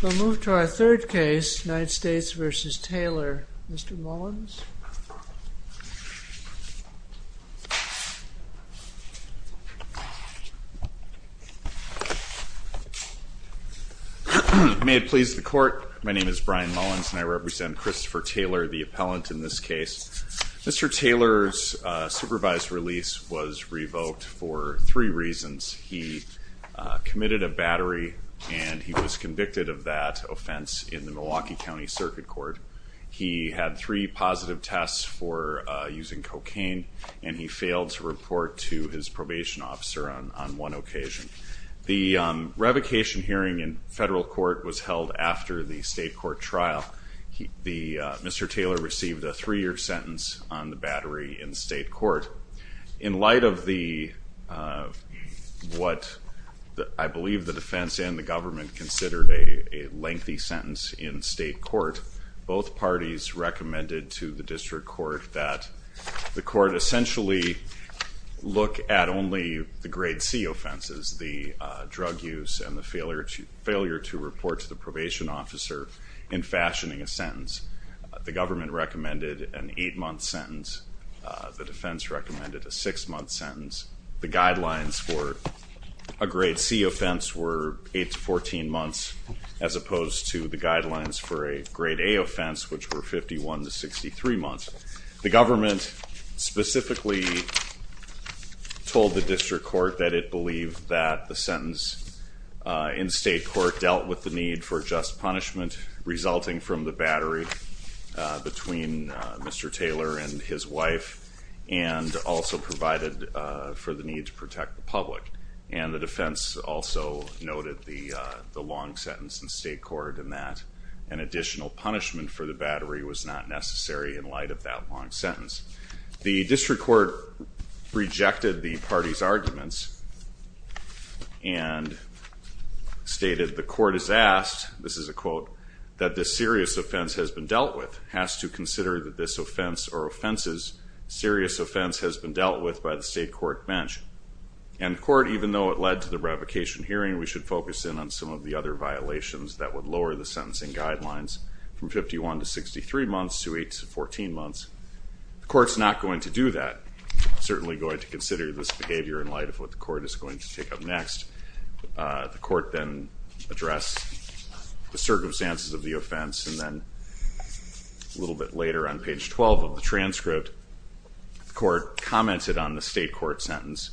We'll move to our third case, United States v. Taylor. Mr. Mullins? May it please the court, my name is Brian Mullins and I represent Christopher Taylor, the appellant in this case. Mr. Taylor's supervised release was revoked for three reasons. He committed a battery and he was convicted of that offense in the Milwaukee County Circuit Court. He had three positive tests for using cocaine and he failed to report to his probation officer on one occasion. The revocation hearing in federal court was held after the state court trial. Mr. Taylor received a three-year sentence on the battery in state court. In light of what I believe the defense and the government considered a lengthy sentence in state court, both parties recommended to the district court that the court essentially look at only the grade C offenses, the drug use and the failure to report to the probation officer in fashioning a sentence. The government recommended an eight-month sentence. The defense recommended a six-month sentence. The guidelines for a grade C offense were eight to 14 months as opposed to the guidelines for a grade A offense which were 51 to 63 months. The government specifically told the district court that it believed that the sentence in state court dealt with the need for just punishment resulting from the battery between Mr. Taylor and his wife and also provided for the need to protect the public. And the defense also noted the long sentence in state court and that an additional punishment for the battery was not necessary in light of that long sentence. The district court rejected the parties' arguments and stated the court is asked, this is a quote, that this serious offense has been dealt with, has to consider that this offense or offenses serious offense has been dealt with by the state court bench. And the court, even though it led to the revocation hearing, we should focus in on some of the other violations that would lower the sentencing guidelines from 51 to 63 months to eight to 14 months. The court's not going to do that. It's certainly going to consider this behavior in light of what the court is going to take up next. The court then addressed the circumstances of the offense and then a little bit later on page 12 of the transcript, the court commented on the state court sentence.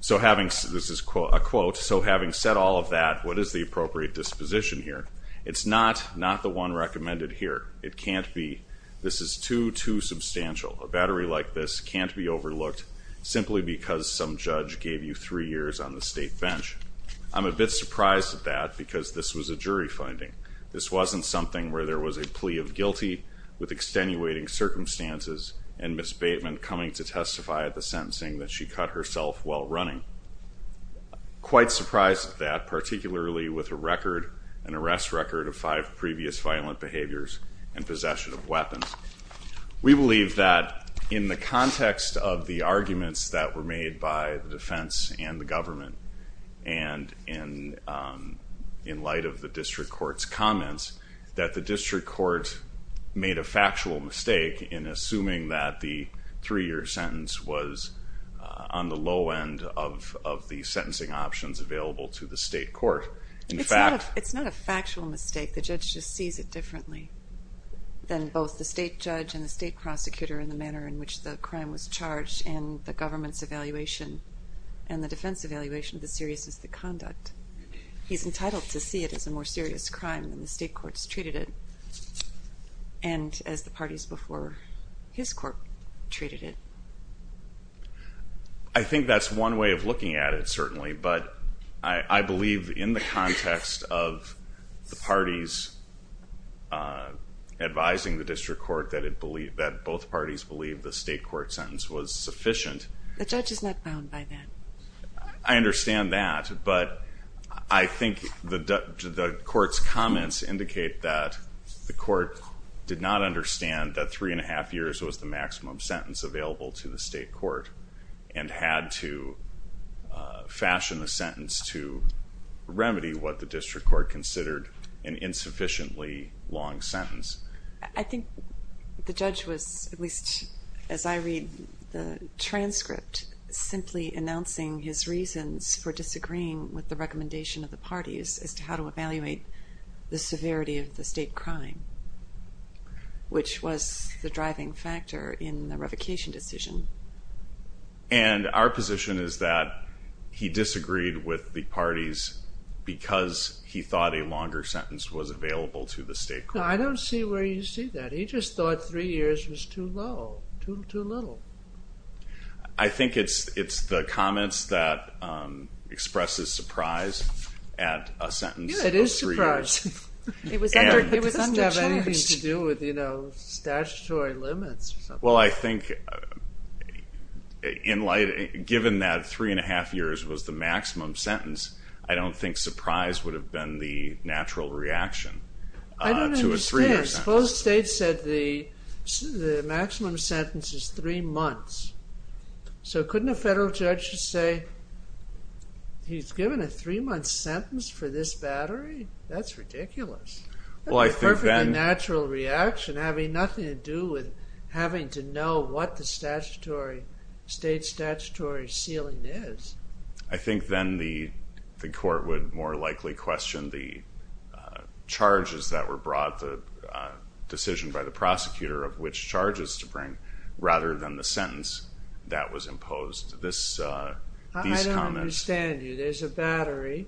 So having, this is a quote, so having said all of that, what is the appropriate disposition here? It's not, not the one recommended here. It can't be. This is too, too substantial. A battery like this can't be overlooked simply because some judge gave you three years on the state bench. I'm a bit surprised at that because this was a jury finding. This wasn't something where there was a plea of guilty with extenuating circumstances and Ms. Bateman coming to testify at the sentencing that she cut herself while running. Quite surprised at that, particularly with a record, an arrest record of five previous violent behaviors and possession of weapons. We believe that in the context of the arguments that were made by the defense and the government and in light of the district court's comments, that the district court made a factual mistake in assuming that the three year sentence was on the low end of the sentencing options available to the state court. It's not a factual mistake. The judge just sees it differently than both the state judge and the state prosecutor in the manner in which the crime was charged and the government's evaluation and the defense evaluation of the seriousness of the conduct. He's entitled to see it as a more serious crime than the state court's treated it and as the parties before his court treated it. I think that's one way of looking at it, certainly, but I believe in the context of the parties advising the district court that both parties believe the state court sentence was sufficient. The judge is not bound by that. I understand that, but I think the court's comments indicate that the court did not understand that three and a half years was the maximum sentence available to the state court and had to fashion a sentence to remedy what the district court considered an insufficiently long sentence. I think the judge was, at least as I read the transcript, simply announcing his reasons for disagreeing with the recommendation of the parties as to how to evaluate the severity of the state crime, which was the driving factor in the revocation decision. And our position is that he disagreed with the parties because he thought a longer sentence was available to the state court. I don't see where you see that. He just thought three years was too low, too little. I think it's the comments that expresses surprise at a sentence of three years. Yeah, it is a surprise. It was undercharged. And it doesn't have anything to do with statutory limits or something. Well, I think given that three and a half years was the maximum sentence, I don't think surprise would have been the natural reaction to it. I don't understand. Suppose the state said the maximum sentence is three months. So couldn't a federal judge just say, he's given a three-month sentence for this battery? That's ridiculous. Well, I think then... That's a perfectly natural reaction having nothing to do with having to know what the state statutory ceiling is. I think then the court would more likely question the charges that were brought, the decision by the prosecutor of which charges to bring, rather than the sentence that was imposed. I don't understand you. There's a battery,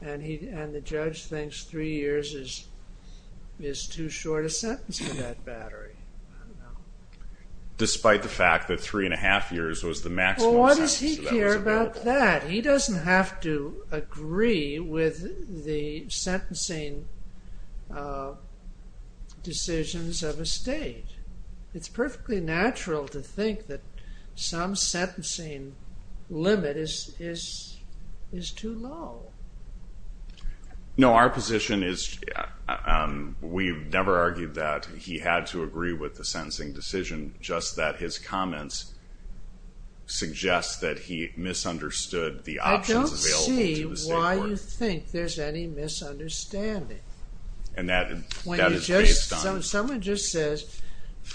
and the judge thinks three years is too short a sentence for that battery. Despite the fact that three and a half years was the maximum sentence. Why does he care about that? He doesn't have to agree with the sentencing decisions of a state. It's perfectly natural to think that some sentencing limit is too low. No, our position is we've never argued that he had to agree with the sentencing decision, just that his comments suggest that he misunderstood the options available to the state court. I don't see why you think there's any misunderstanding. And that is based on... Someone just says,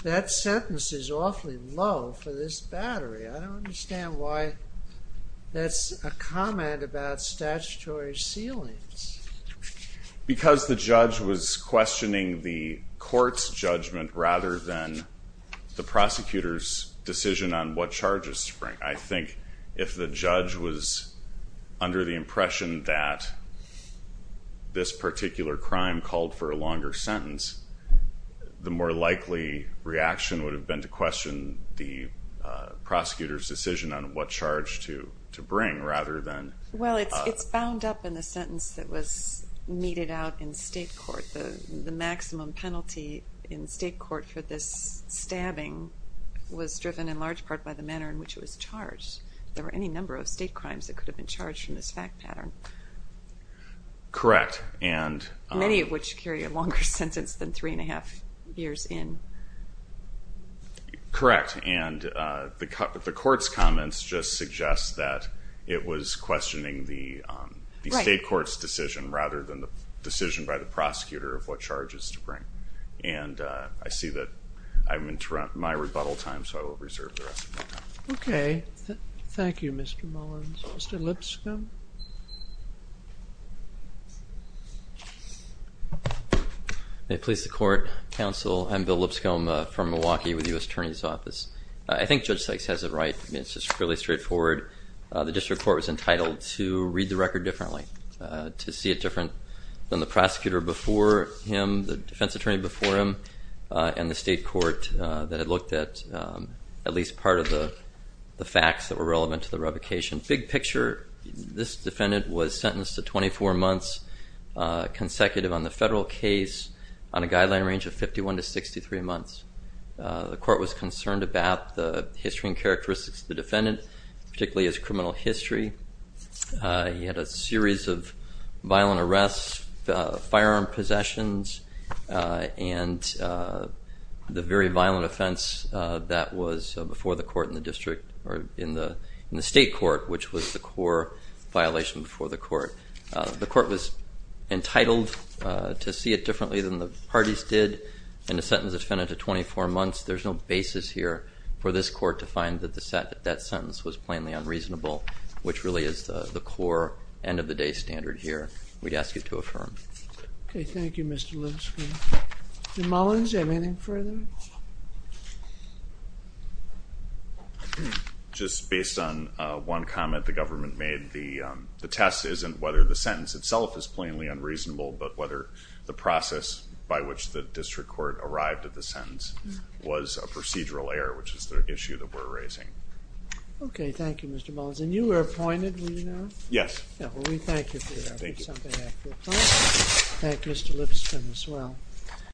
that sentence is awfully low for this battery. I don't understand why that's a comment about statutory ceilings. Because the judge was questioning the court's judgment rather than the prosecutor's decision on what charges to bring. I think if the judge was under the impression that this particular crime called for a longer sentence, the more likely reaction would have been to question the prosecutor's decision on what charge to bring rather than... Well, it's bound up in the sentence that was meted out in state court. The maximum penalty in state court for this stabbing was driven in large part by the manner in which it was charged. There were any number of state crimes that could have been charged from this fact pattern. Correct. Many of which carry a longer sentence than three and a half years in. Correct. And the court's comments just suggest that it was questioning the state court's decision rather than the decision by the prosecutor of what charges to bring. And I see that I've interrupted my rebuttal time, so I will reserve the rest of my time. Okay. Thank you, Mr. Mullins. Mr. Lipscomb? May it please the court, counsel, I'm Bill Lipscomb. I'm from Milwaukee with the U.S. Attorney's Office. I think Judge Sykes has it right. I mean, it's just fairly straightforward. The district court was entitled to read the record differently, to see it different than the prosecutor before him, the defense attorney before him, and the state court that had looked at at least part of the facts that were relevant to the revocation. Big picture, this defendant was sentenced to 24 months consecutive on the federal case on a guideline range of 51 to 63 months. The court was concerned about the history and characteristics of the defendant, particularly his criminal history. He had a series of violent arrests, firearm possessions, and the very violent offense that was before the court in the district or in the state court, which was the core violation before the court. The court was entitled to see it differently than the parties did. In a sentence of 24 months, there's no basis here for this court to find that that sentence was plainly unreasonable, which really is the core end-of-the-day standard here. We'd ask you to affirm. Okay, thank you, Mr. Lipscomb. Mullins, anything further? Just based on one comment the government made, the test isn't whether the sentence itself is plainly unreasonable, but whether the process by which the district court arrived at the sentence was a procedural error, which is the issue that we're raising. Okay, thank you, Mr. Mullins. And you were appointed, were you not? Yes. Well, we thank you for your efforts. Thank you. I'm going to ask you a question. Thank you, Mr. Lipscomb, as well.